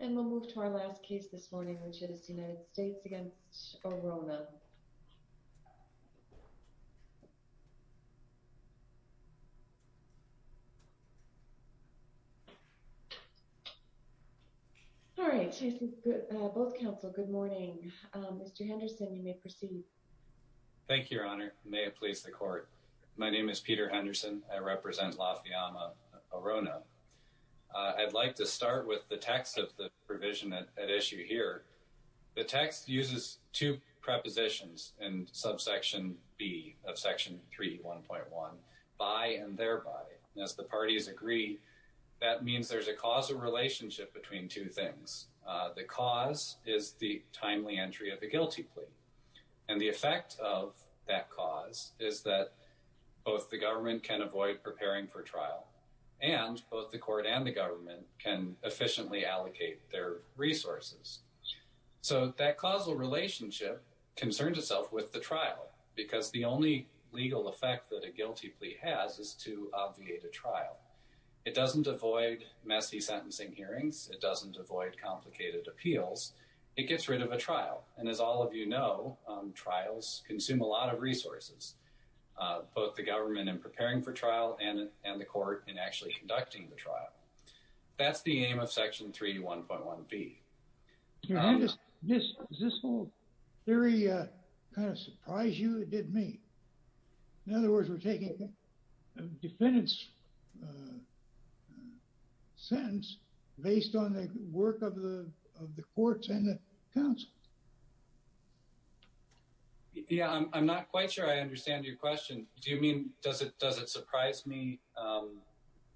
and we'll move to our last case this morning which is the United States against Orona. All right, both counsel, good morning. Mr. Henderson, you may proceed. Thank you, Your Honor. May it please the court. My name is Peter Henderson. I represent the U.S. Supreme Court. I'm here today with the text of the provision at issue here. The text uses two prepositions in subsection B of section 3, 1.1, by and thereby. As the parties agree, that means there's a causal relationship between two things. The cause is the timely entry of a guilty plea and the effect of that cause is that both the government can avoid preparing for trial and both the court and the government can efficiently allocate their resources. So that causal relationship concerns itself with the trial because the only legal effect that a guilty plea has is to obviate a trial. It doesn't avoid messy sentencing hearings. It doesn't avoid complicated appeals. It gets rid of a trial and as all of you know, trials consume a lot of resources. Both the government in preparing for trial and and the court in actually conducting the trial. That's the aim of section 3, 1.1B. Your Honor, does this whole theory kind of surprise you? It did me. In other words, we're taking a defendant's sentence based on the work of the courts and the counsels. Yeah, I'm not quite sure I understand your question. Do you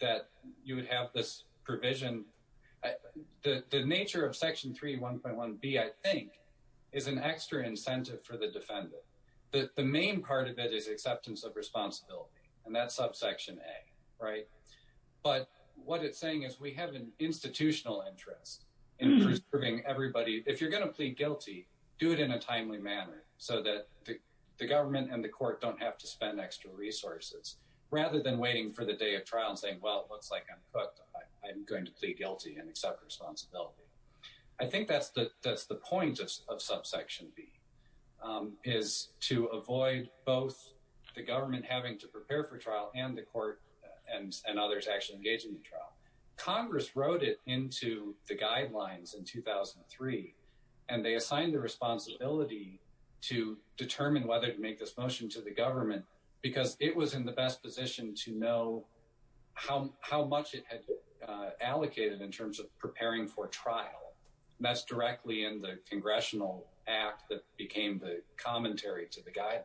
that you would have this provision? The nature of section 3, 1.1B, I think, is an extra incentive for the defendant. The main part of it is acceptance of responsibility and that's subsection A, right? But what it's saying is we have an institutional interest in preserving everybody. If you're going to plead guilty, do it in a timely manner so that the government and the court don't have to spend extra resources rather than waiting for the day of trial and saying, well, it looks like I'm cooked. I'm going to plead guilty and accept responsibility. I think that's the point of subsection B, is to avoid both the government having to prepare for trial and the court and others actually engaging in the trial. Congress wrote it into the guidelines in 2003 and they assigned the responsibility to determine whether to make this motion to the government because it was in the best position to know how much it had allocated in terms of preparing for trial. That's directly in the Congressional Act that became the commentary to the guideline.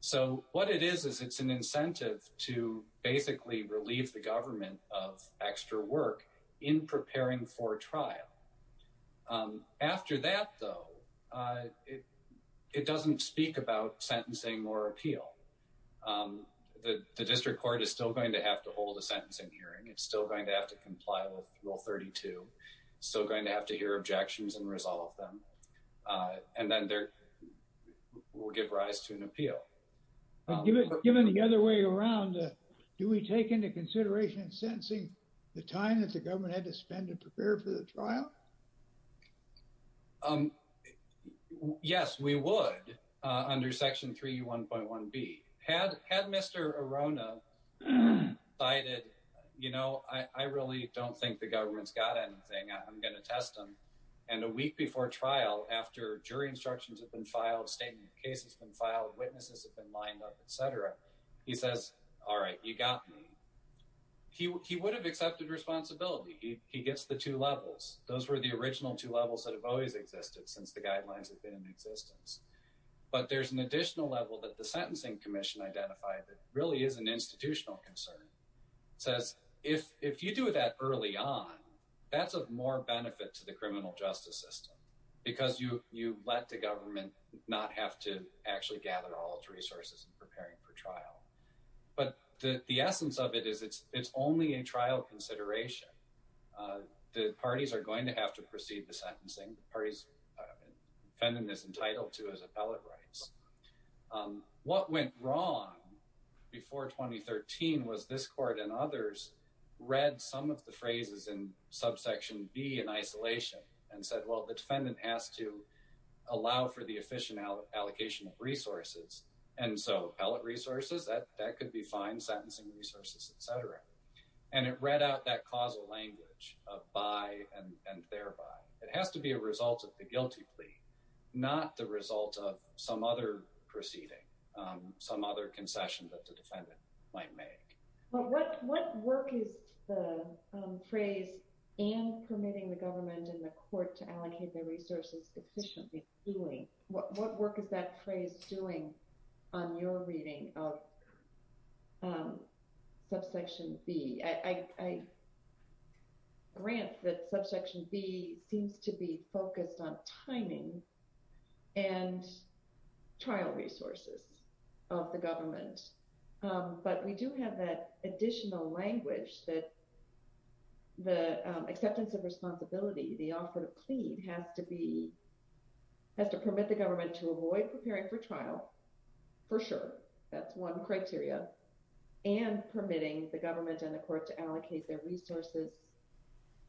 So what it is, is it's an incentive to basically relieve the government of extra work in the trial. It doesn't speak about sentencing or appeal. The district court is still going to have to hold a sentencing hearing. It's still going to have to comply with Rule 32. It's still going to have to hear objections and resolve them. And then there will give rise to an appeal. But given the other way around, do we take into consideration in sentencing the time that the government had to spend to prepare for the trial? Yes, we would under Section 3E1.1B. Had Mr. Arona cited, you know, I really don't think the government's got anything. I'm going to test them. And a week before trial, after jury instructions have been filed, statement of cases been filed, witnesses have been lined up, et cetera, he says, all right, you got me. He would have accepted responsibility. He gets the two levels. Those were the original two levels that have always existed since the guidelines have been in existence. But there's an additional level that the Sentencing Commission identified that really is an institutional concern. It says, if you do that early on, that's of more benefit to the criminal justice system because you let the government not have to actually gather all its resources in preparing for trial. But the essence of it is it's only a trial consideration. The parties are going to have to proceed the sentencing. The parties, defendant is entitled to his appellate rights. What went wrong before 2013 was this court and others read some of the phrases in Subsection B in isolation and said, well, the defendant has to allow for the efficient allocation of resources. And so appellate resources, that could be fine, sentencing resources, et cetera. And it read out that causal language of by and thereby. It has to be a result of the guilty plea, not the result of some other proceeding, some other concession that the defendant might make. But what work is the phrase and permitting the government and the court to allocate the resources efficiently doing? What work is that phrase doing on your reading of Subsection B? I grant that Subsection B seems to be focused on timing and trial resources of the government. But we do have that additional language that. The acceptance of responsibility, the offer to plead has to be. Has to permit the government to avoid preparing for trial, for sure, that's one criteria and permitting the government and the court to allocate their resources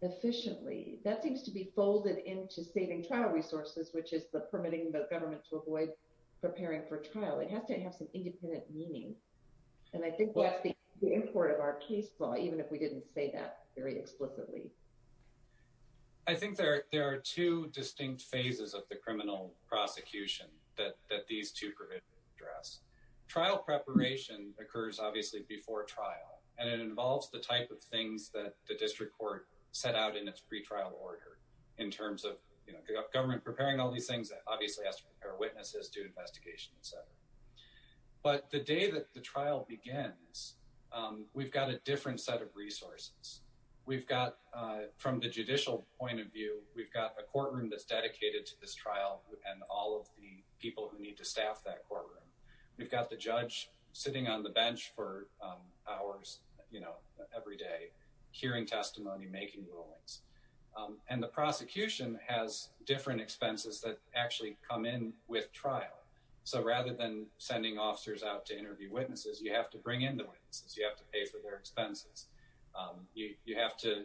efficiently, that seems to be folded into saving trial resources, which is the permitting the government to avoid preparing for trial. It has to have some independent meaning. And I think that's the import of our case law, even if we didn't say that very explicitly. I think there are two distinct phases of the criminal prosecution that these two address. Trial preparation occurs, obviously, before trial, and it involves the type of things that the district court set out in its pre-trial order in terms of government preparing all these things that obviously has our witnesses do investigation, etc. But the day that the trial begins, we've got a different set of resources. We've got from the judicial point of view, we've got a courtroom that's dedicated to this trial and all of the people who need to staff that courtroom. We've got the judge sitting on the bench for hours every day, hearing testimony, making rulings. And the prosecution has different expenses that actually come in with trial. So rather than sending officers out to interview witnesses, you have to bring in the witnesses. You have to pay for their expenses. You have to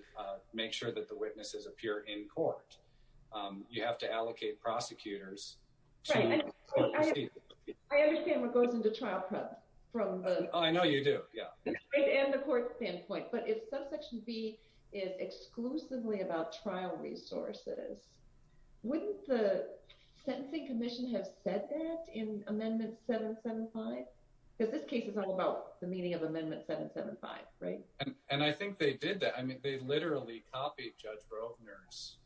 make sure that the witnesses appear in court. You have to allocate prosecutors. I understand what goes into trial prep from the court standpoint, but if wouldn't the Sentencing Commission have said that in Amendment 775? Because this case is all about the meaning of Amendment 775, right? And I think they did that. I mean, they literally copied Judge Rovner's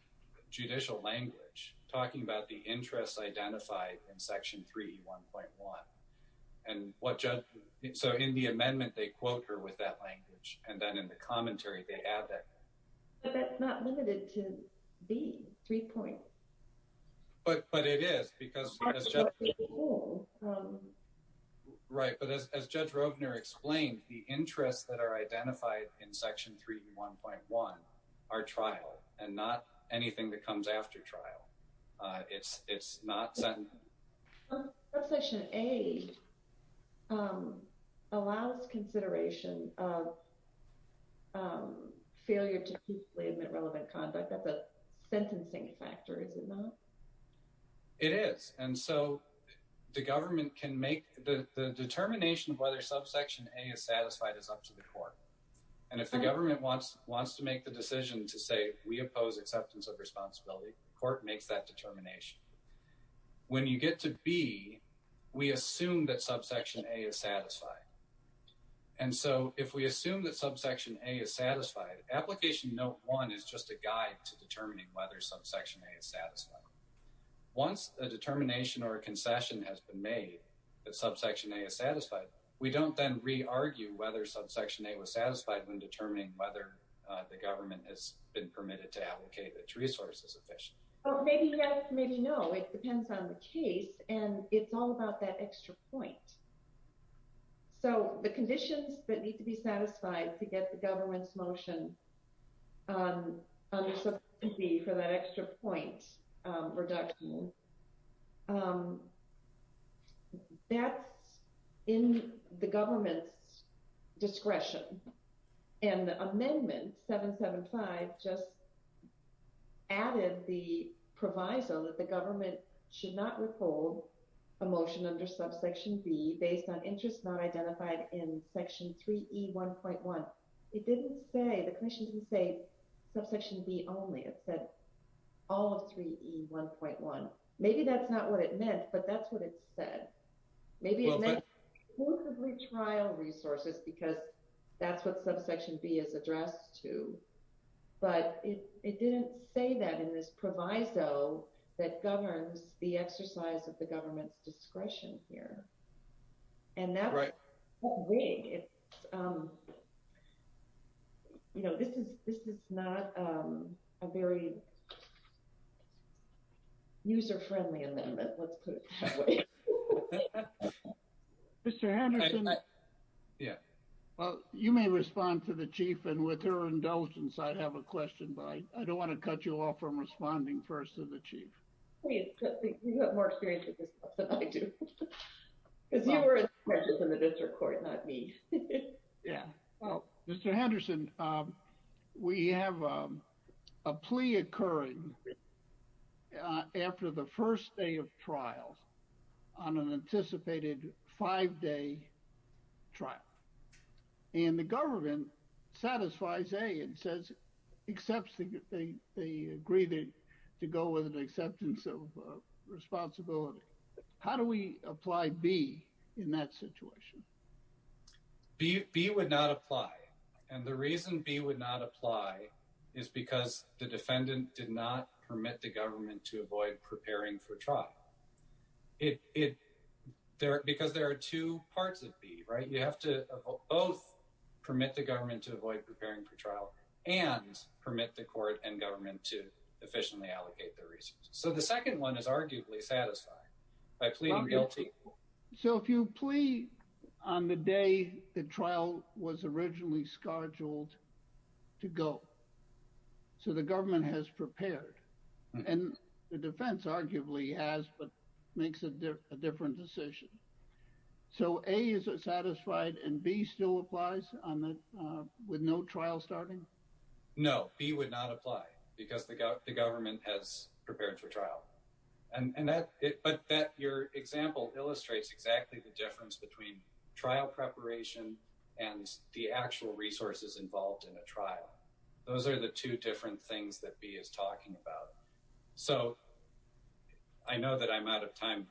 judicial language talking about the interests identified in Section 3E1.1. And so in the amendment, they quote her with that language. And then in the commentary, they add that. But that's not limited to these three points. But it is, because as Judge Rovner explained, the interests that are identified in Section 3E1.1 are trial and not anything that comes after trial. It's not sentencing. Subsection A allows consideration of failure to peacefully admit relevant conduct as a sentencing factor, is it not? It is. And so the government can make the determination of whether subsection A is satisfied is up to the court. And if the government wants to make the decision to say, we oppose acceptance of responsibility, the court makes that when you get to B, we assume that subsection A is satisfied. And so if we assume that subsection A is satisfied, Application Note 1 is just a guide to determining whether subsection A is satisfied. Once a determination or a concession has been made that subsection A is satisfied, we don't then re-argue whether subsection A was satisfied when determining whether the government has been permitted to allocate its resources efficiently. Maybe yes, maybe no. It depends on the case. And it's all about that extra point. So the conditions that need to be satisfied to get the government's motion on subsection B for that extra point reduction, that's in the proviso that the government should not withhold a motion under subsection B based on interest not identified in section 3E1.1. It didn't say, the commission didn't say subsection B only. It said all of 3E1.1. Maybe that's not what it meant, but that's what it said. Maybe it meant exclusively trial resources because that's what subsection B is addressed to. But it didn't say that in this proviso that governs the exercise of the government's discretion here. And that's the way it's, you know, this is not a very user-friendly amendment, let's put it that way. MR. HENDERSON. Mr. Henderson? MR. STEINWALD. Yeah. MR. HENDERSON. Well, you may respond to the chief, and with her indulgence, I have a question, but I don't want to cut you off from responding first to MR. STEINWALD. You have more experience with this stuff than I do. Because you were in the district court, not me. MR. HENDERSON. Yeah. Mr. Henderson, we have a plea occurring after the first day of trial on an exception. They agree to go with an acceptance of responsibility. How do we apply B in that situation? MR. STEINWALD. B would not apply. And the reason B would not apply is because the defendant did not permit the government to avoid preparing for trial. Because there are two parts of B, right? You have to both permit the government to permit the court and government to efficiently allocate their resources. So the second one is arguably satisfied by pleading guilty. MR. HENDERSON. So if you plead on the day the trial was originally scheduled to go, so the government has prepared. And the defense arguably has, but makes a different decision. So A, is it satisfied? And B still applies with no trial starting? MR. STEINWALD. No. B would not apply because the government has prepared for trial. But your example illustrates exactly the difference between trial preparation and the actual resources involved in a trial. Those are the two different things that B is talking about. So I know that I'm out of time.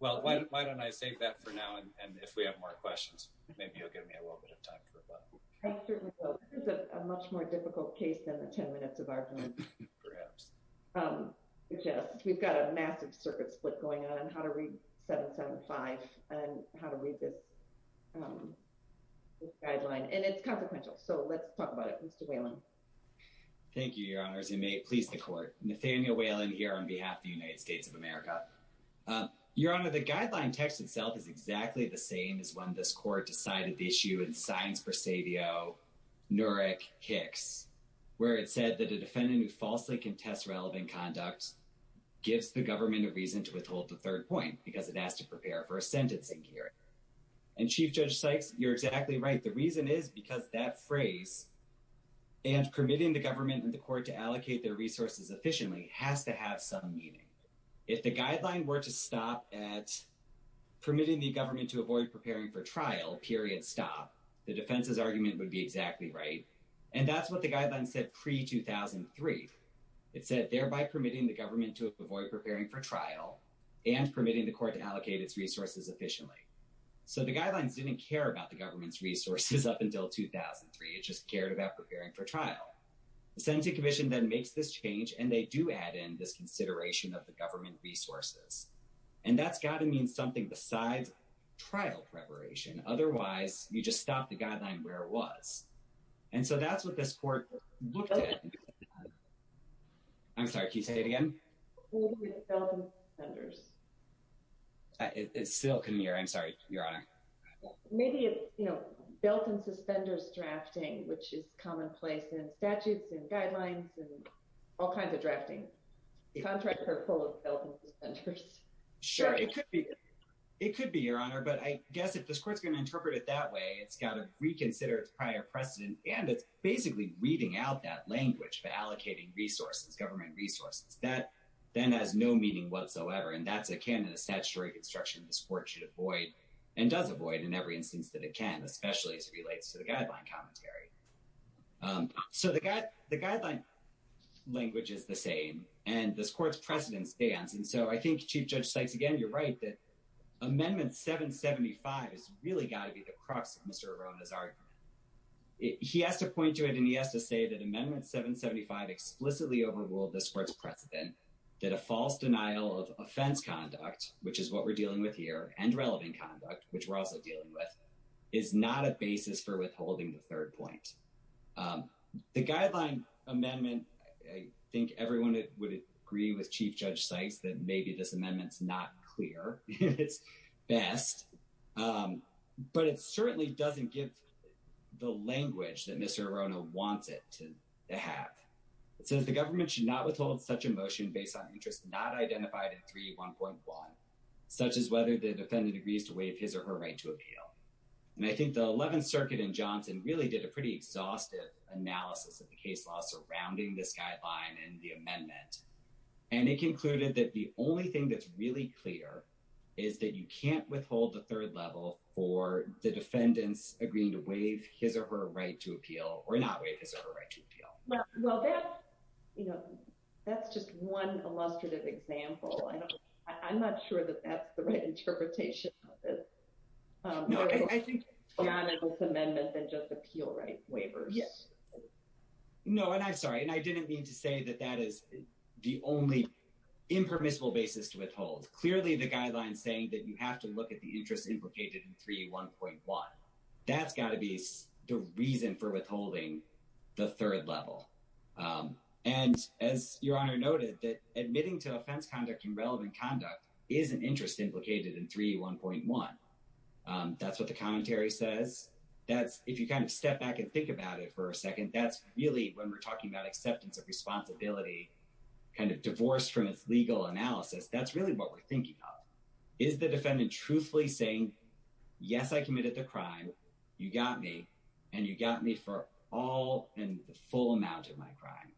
Well, why don't I save that for now, and if we have more questions, maybe you'll give me a little bit of time for that. I certainly will. This is a much more difficult case than the 10 minutes of argument. MR. HENDERSON. Perhaps. MR. STEINWALD. Yes. We've got a massive circuit split going on, how to read 775, and how to read this guideline. And it's consequential. So let's talk about it. Mr. Whelan. MR. WHELAN. Thank you, Your Honors. And may it please the court. Nathaniel Whelan here on behalf of the United States of America. Your Honor, the guideline text itself is exactly the same as when this court decided the issue in Science Presadio, Nurek, Hicks, where it said that a defendant who falsely contests relevant conduct gives the government a reason to withhold the third point because it has to prepare for a sentencing hearing. And, Chief Judge Sykes, you're exactly right. The reason is because that phrase, and permitting the government and the court to allocate their resources efficiently, has to have some meaning. If the guideline were to stop at permitting the government to avoid preparing for trial, period, stop, the defense's argument would be exactly right. And that's what the guideline said pre-2003. It said, thereby permitting the government to avoid preparing for trial and permitting the court to allocate its resources efficiently. So the guidelines didn't care about the government's resources up until 2003. It just cared about preparing for trial. The Sentencing Commission then makes this change, and they do add in this consideration of the government resources. And that's got to mean something besides trial preparation. Otherwise, you just stop the guideline where it was. And so that's what this court looked at. I'm sorry, can you say it again? It's built in suspenders. It's still, I'm sorry, Your Honor. Maybe it's, you know, built in suspenders drafting, which is commonplace in statutes and guidelines and all kinds of drafting. Contractor pull of built in suspenders. Sure, it could be. It could be, Your Honor. But I guess if this court's going to interpret it that way, it's got to reconsider its prior precedent. And it's basically reading out that language for allocating resources, government resources. That then has no meaning whatsoever. And that's akin to the statutory construction this court should avoid and does avoid in every instance that it can, especially as it relates to the guideline commentary. So the guideline language is the same, and this court's precedent stands. And so I think Chief Judge Sykes, again, you're right that Amendment 775 has really got to be the crux of Mr. Arrona's argument. He has to point to it, and he has to say that Amendment 775 explicitly overruled this court's precedent, that a false denial of offense conduct, which is what we're dealing with here, and relevant conduct, which we're also dealing with, is not a basis for withholding the third point. The guideline amendment, I think everyone would agree with Chief Judge Sykes that maybe this amendment's not clear at its best. But it certainly doesn't give the language that Mr. Arrona wants it to have. It says the government should not withhold such a motion based on interest not identified in 3.1.1, such as whether the defendant agrees to waive his or her right to appeal. And I think the 11th Circuit in Johnson really did a pretty exhaustive analysis of the case law surrounding this guideline and the amendment. And it concluded that the only thing that's really clear is that you can't withhold the third level for the defendants agreeing to waive his or her right to appeal or not waive his or her right to appeal. Well, that's just one illustrative example. I'm not sure that that's the right interpretation of this. No, I think it's beyond this amendment than just appeal right waivers. Yes. No, and I'm sorry, and I didn't mean to say that that is the only impermissible basis to withhold. Clearly, the guideline's saying that you have to look at the interest implicated in 3.1.1. That's got to be the reason for withholding the third level. And as Your Honor noted, that admitting to offense, conduct, and relevant conduct is an interest implicated in 3.1.1. That's what the commentary says. That's if you kind of step back and think about it for a second. That's really when we're talking about acceptance of responsibility kind of divorced from its legal analysis. That's really what we're thinking of. Is the defendant truthfully saying, yes, I committed the crime, you got me, and you got me for all and the full amount of my crime.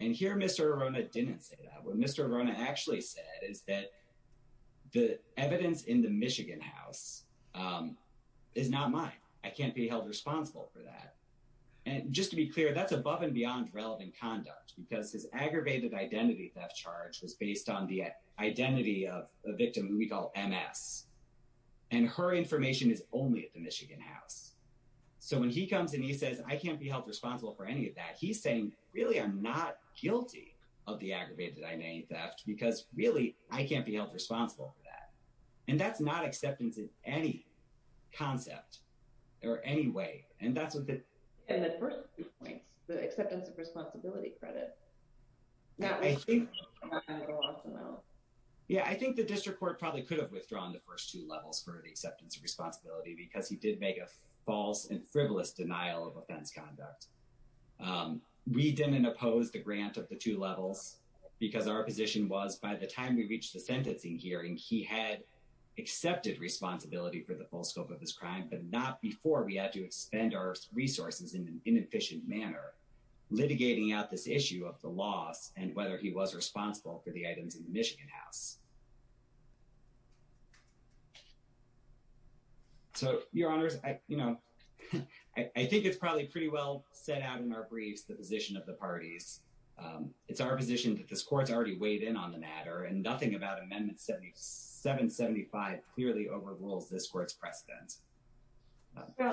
And here Mr. Arona didn't say that. What Mr. Arona actually said is that the evidence in the Michigan house is not mine. I can't be held responsible for that. And just to be clear, that's above and beyond relevant conduct because his aggravated identity charge was based on the identity of a victim we call MS. And her information is only at the Michigan house. So when he comes and he says, I can't be held responsible for any of that, he's saying, really, I'm not guilty of the aggravated identity theft because, really, I can't be held responsible for that. And that's not acceptance in any concept or any way. And the first two points, the acceptance of responsibility credit. I think the district court probably could have withdrawn the first two levels for the acceptance of responsibility because he did make a false and frivolous denial of offense conduct. We didn't oppose the grant of the two levels because our position was by the time we reached the sentencing hearing, he had accepted responsibility for the full scope of his resources in an inefficient manner, litigating out this issue of the loss and whether he was responsible for the items in the Michigan house. So, your honors, I think it's probably pretty well set out in our briefs, the position of the parties. It's our position that this court's already weighed in on the matter and nothing about amendment 775 clearly overrules this court's precedence.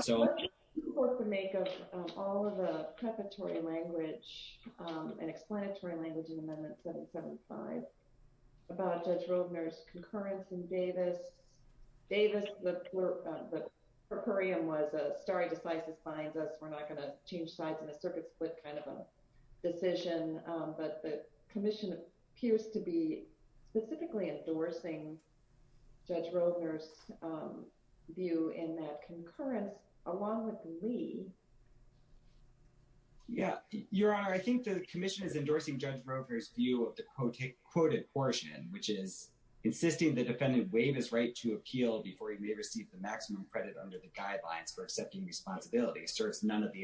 So, what would the court make of all of the preparatory language and explanatory language in amendment 775 about Judge Roedner's concurrence in Davis? Davis, the per curiam was a stare decisis binds us, we're not going to change sides in a circuit split kind of a decision. But the commission appears to be specifically endorsing Judge Roedner's view in that concurrence, along with Lee. Yeah, your honor, I think the commission is endorsing Judge Roedner's view of the quoted portion, which is insisting the defendant waive his right to appeal before he may receive the maximum credit under the guidelines for accepting responsibility serves none of the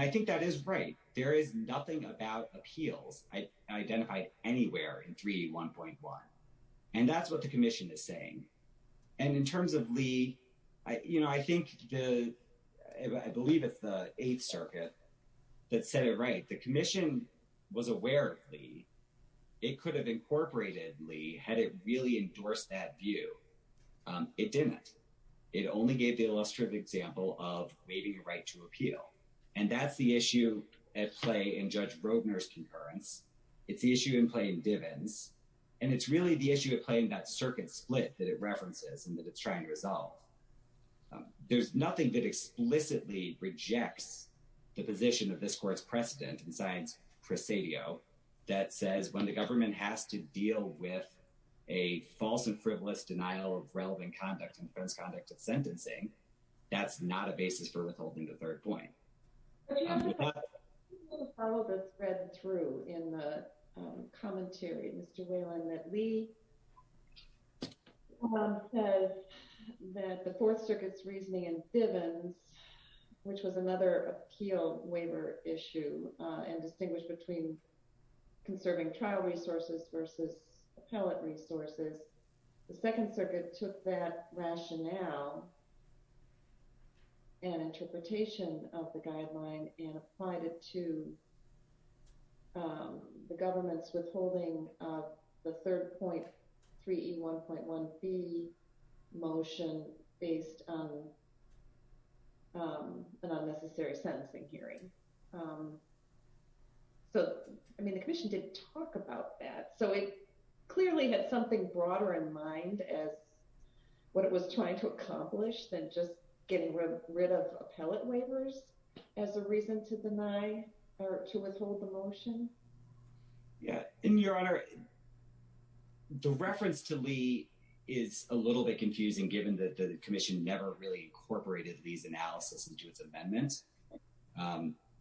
I think that is right. There is nothing about appeals identified anywhere in 3D1.1. And that's what the commission is saying. And in terms of Lee, I think, I believe it's the 8th circuit that said it right. The commission was aware of Lee. It could have incorporated Lee had it really endorsed that view. It didn't. It only gave the illustrative example of waiving a right to appeal. And that's the issue at play in Judge Roedner's concurrence. It's the issue in plain dividends. And it's really the issue of playing that circuit split that it references and that it's trying to resolve. There's nothing that explicitly rejects the position of this court's precedent and science presidio that says when the government has to deal with a false and frivolous denial of relevant conduct and offense, conduct of sentencing, that's not a basis for withholding the third point. I just want to follow the thread through in the commentary, Mr. Whalen, that Lee says that the 4th circuit's reasoning in Bivens, which was another appeal waiver issue and distinguished between conserving trial resources versus appellate resources, the 2nd circuit took that rationale and interpretation of the guideline and applied it to the government's withholding of the third point 3E1.1B motion based on an unnecessary sentencing hearing. So, I mean, the commission didn't talk about that. So it was trying to accomplish than just getting rid of appellate waivers as a reason to deny or to withhold the motion? Yeah. And, Your Honor, the reference to Lee is a little bit confusing given that the commission never really incorporated Lee's analysis into its amendment.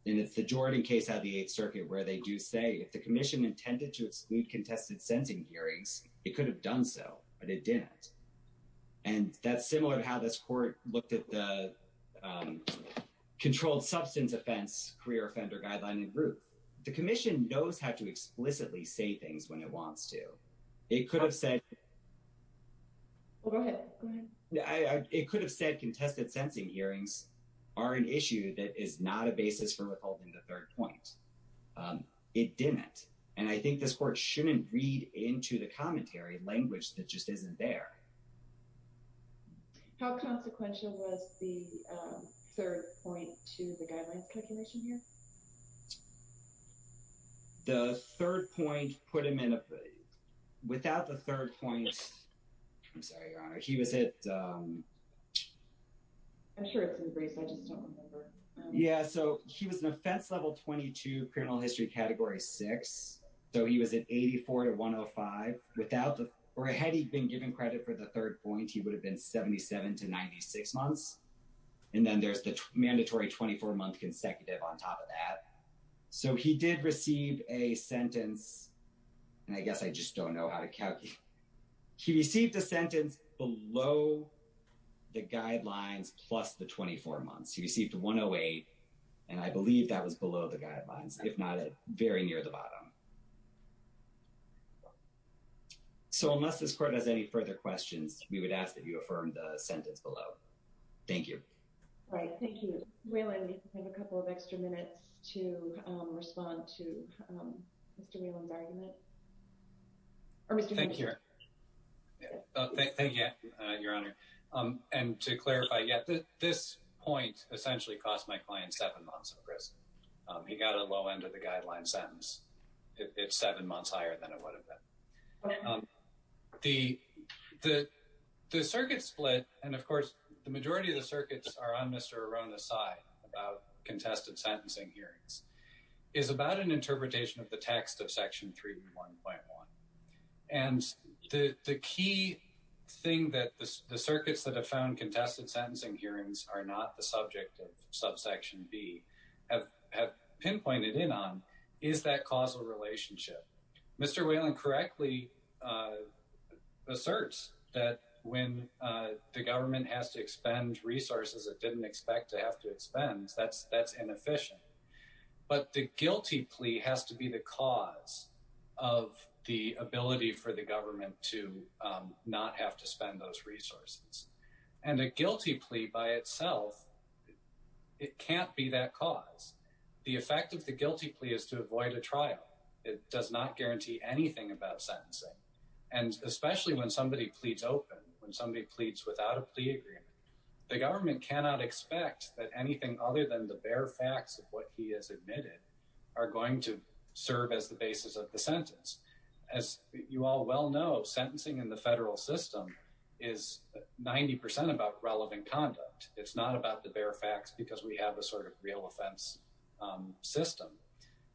And it's the Jordan case out of the 8th circuit where they do say if the commission intended to exclude contested sentencing hearings, it could have done so, but it didn't. And that's similar to how this court looked at the controlled substance offense career offender guideline and group. The commission knows how to explicitly say things when it wants to. It could have said... Go ahead. Go ahead. It could have said contested sentencing hearings are an issue that is not a basis for withholding the third point. It didn't. And I think this court shouldn't read into the commentary language that just isn't there. How consequential was the third point to the guidelines calculation here? The third point put him in a... Without the third point... I'm sorry, Your Honor. He was at... I'm sure it's in Brace. I just don't remember. Yeah, so he was an offense level 22 criminal history category 6. So he was at 84 to 105. Without the... Or had he been given credit for the third point, he would have been 77 to 96 months. And then there's the mandatory 24-month consecutive on top of that. So he did receive a sentence. And I guess I just don't know how to calculate. He received a sentence below the guidelines plus the 24 months. He received 108. And I believe that was below the guidelines, if not very near the bottom. So unless this court has any further questions, we would ask that you affirm the sentence below. Thank you. All right. Thank you. Whelan, you have a couple of extra minutes to respond to Mr. Whelan's argument. Or Mr. Whelan. Thank you. Thank you, Your Honor. And to clarify, yeah, this point essentially cost my client seven months in prison. He got a low end of the guideline sentence. It's seven months higher than it would have been. The circuit split, and of course, the majority of the circuits are on Mr. Arona's side about contested sentencing hearings, is about an interpretation of the text of Section 3.1.1. And the key thing that the circuits that have found contested sentencing hearings are not the subject of Subsection B have pinpointed in on is that causal relationship. Mr. Whelan correctly asserts that when the government has to expend resources it didn't expect to have to expend, that's inefficient. But the guilty plea has to be the cause of the ability for the government to not have to spend those resources. And a guilty plea by itself, it can't be that cause. The effect of the guilty plea is to avoid a trial. It does not guarantee anything about sentencing. And especially when somebody pleads open, when somebody pleads without a plea agreement, the government cannot expect that anything other than the bare facts of what he has admitted are going to serve as the basis of the sentence. As you all well know, sentencing in the federal system is 90% about relevant conduct. It's not about the bare facts because we have a sort of real offense system.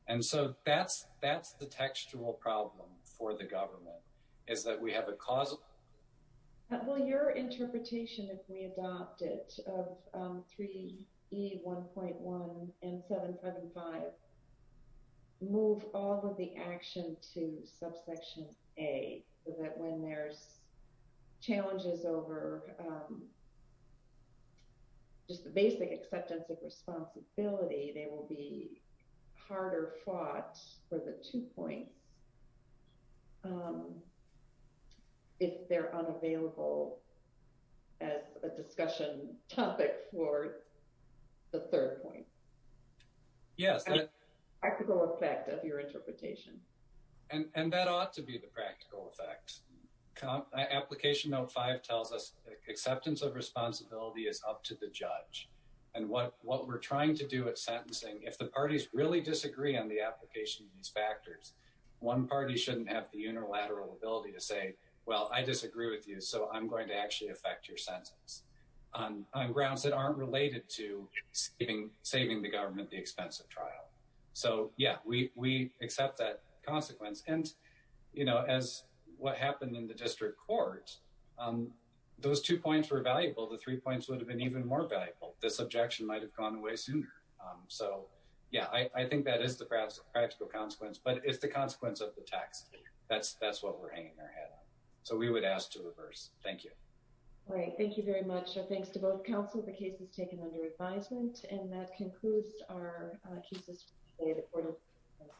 And so that's the textual problem for the government, is that we have a causal. Will your interpretation, if we adopt it, of 3E1.1 and 775, move all of the action to Subsection A so that when there's challenges over just the basic acceptance of responsibility, they will be harder fought for the two points? If they're unavailable as a discussion topic for the third point? Yes. Practical effect of your interpretation. And that ought to be the practical effect. Application Note 5 tells us acceptance of responsibility is up to the judge. And what we're trying to do at sentencing, if the parties really disagree on the application of these factors, one party shouldn't have the unilateral ability to say, well, I disagree with you, so I'm going to actually affect your sentence on grounds that aren't related to saving the government the expense of trial. So yeah, we accept that consequence. And as what happened in the district court, those two points were valuable. The three points would have been even more valuable. This objection might have gone away sooner. So yeah, I think that is the practical consequence, but it's the consequence of the text. That's what we're hanging our head on. So we would ask to reverse. Thank you. Great. Thank you very much. So thanks to both counsel. The case is taken under advisement and that concludes our cases for today.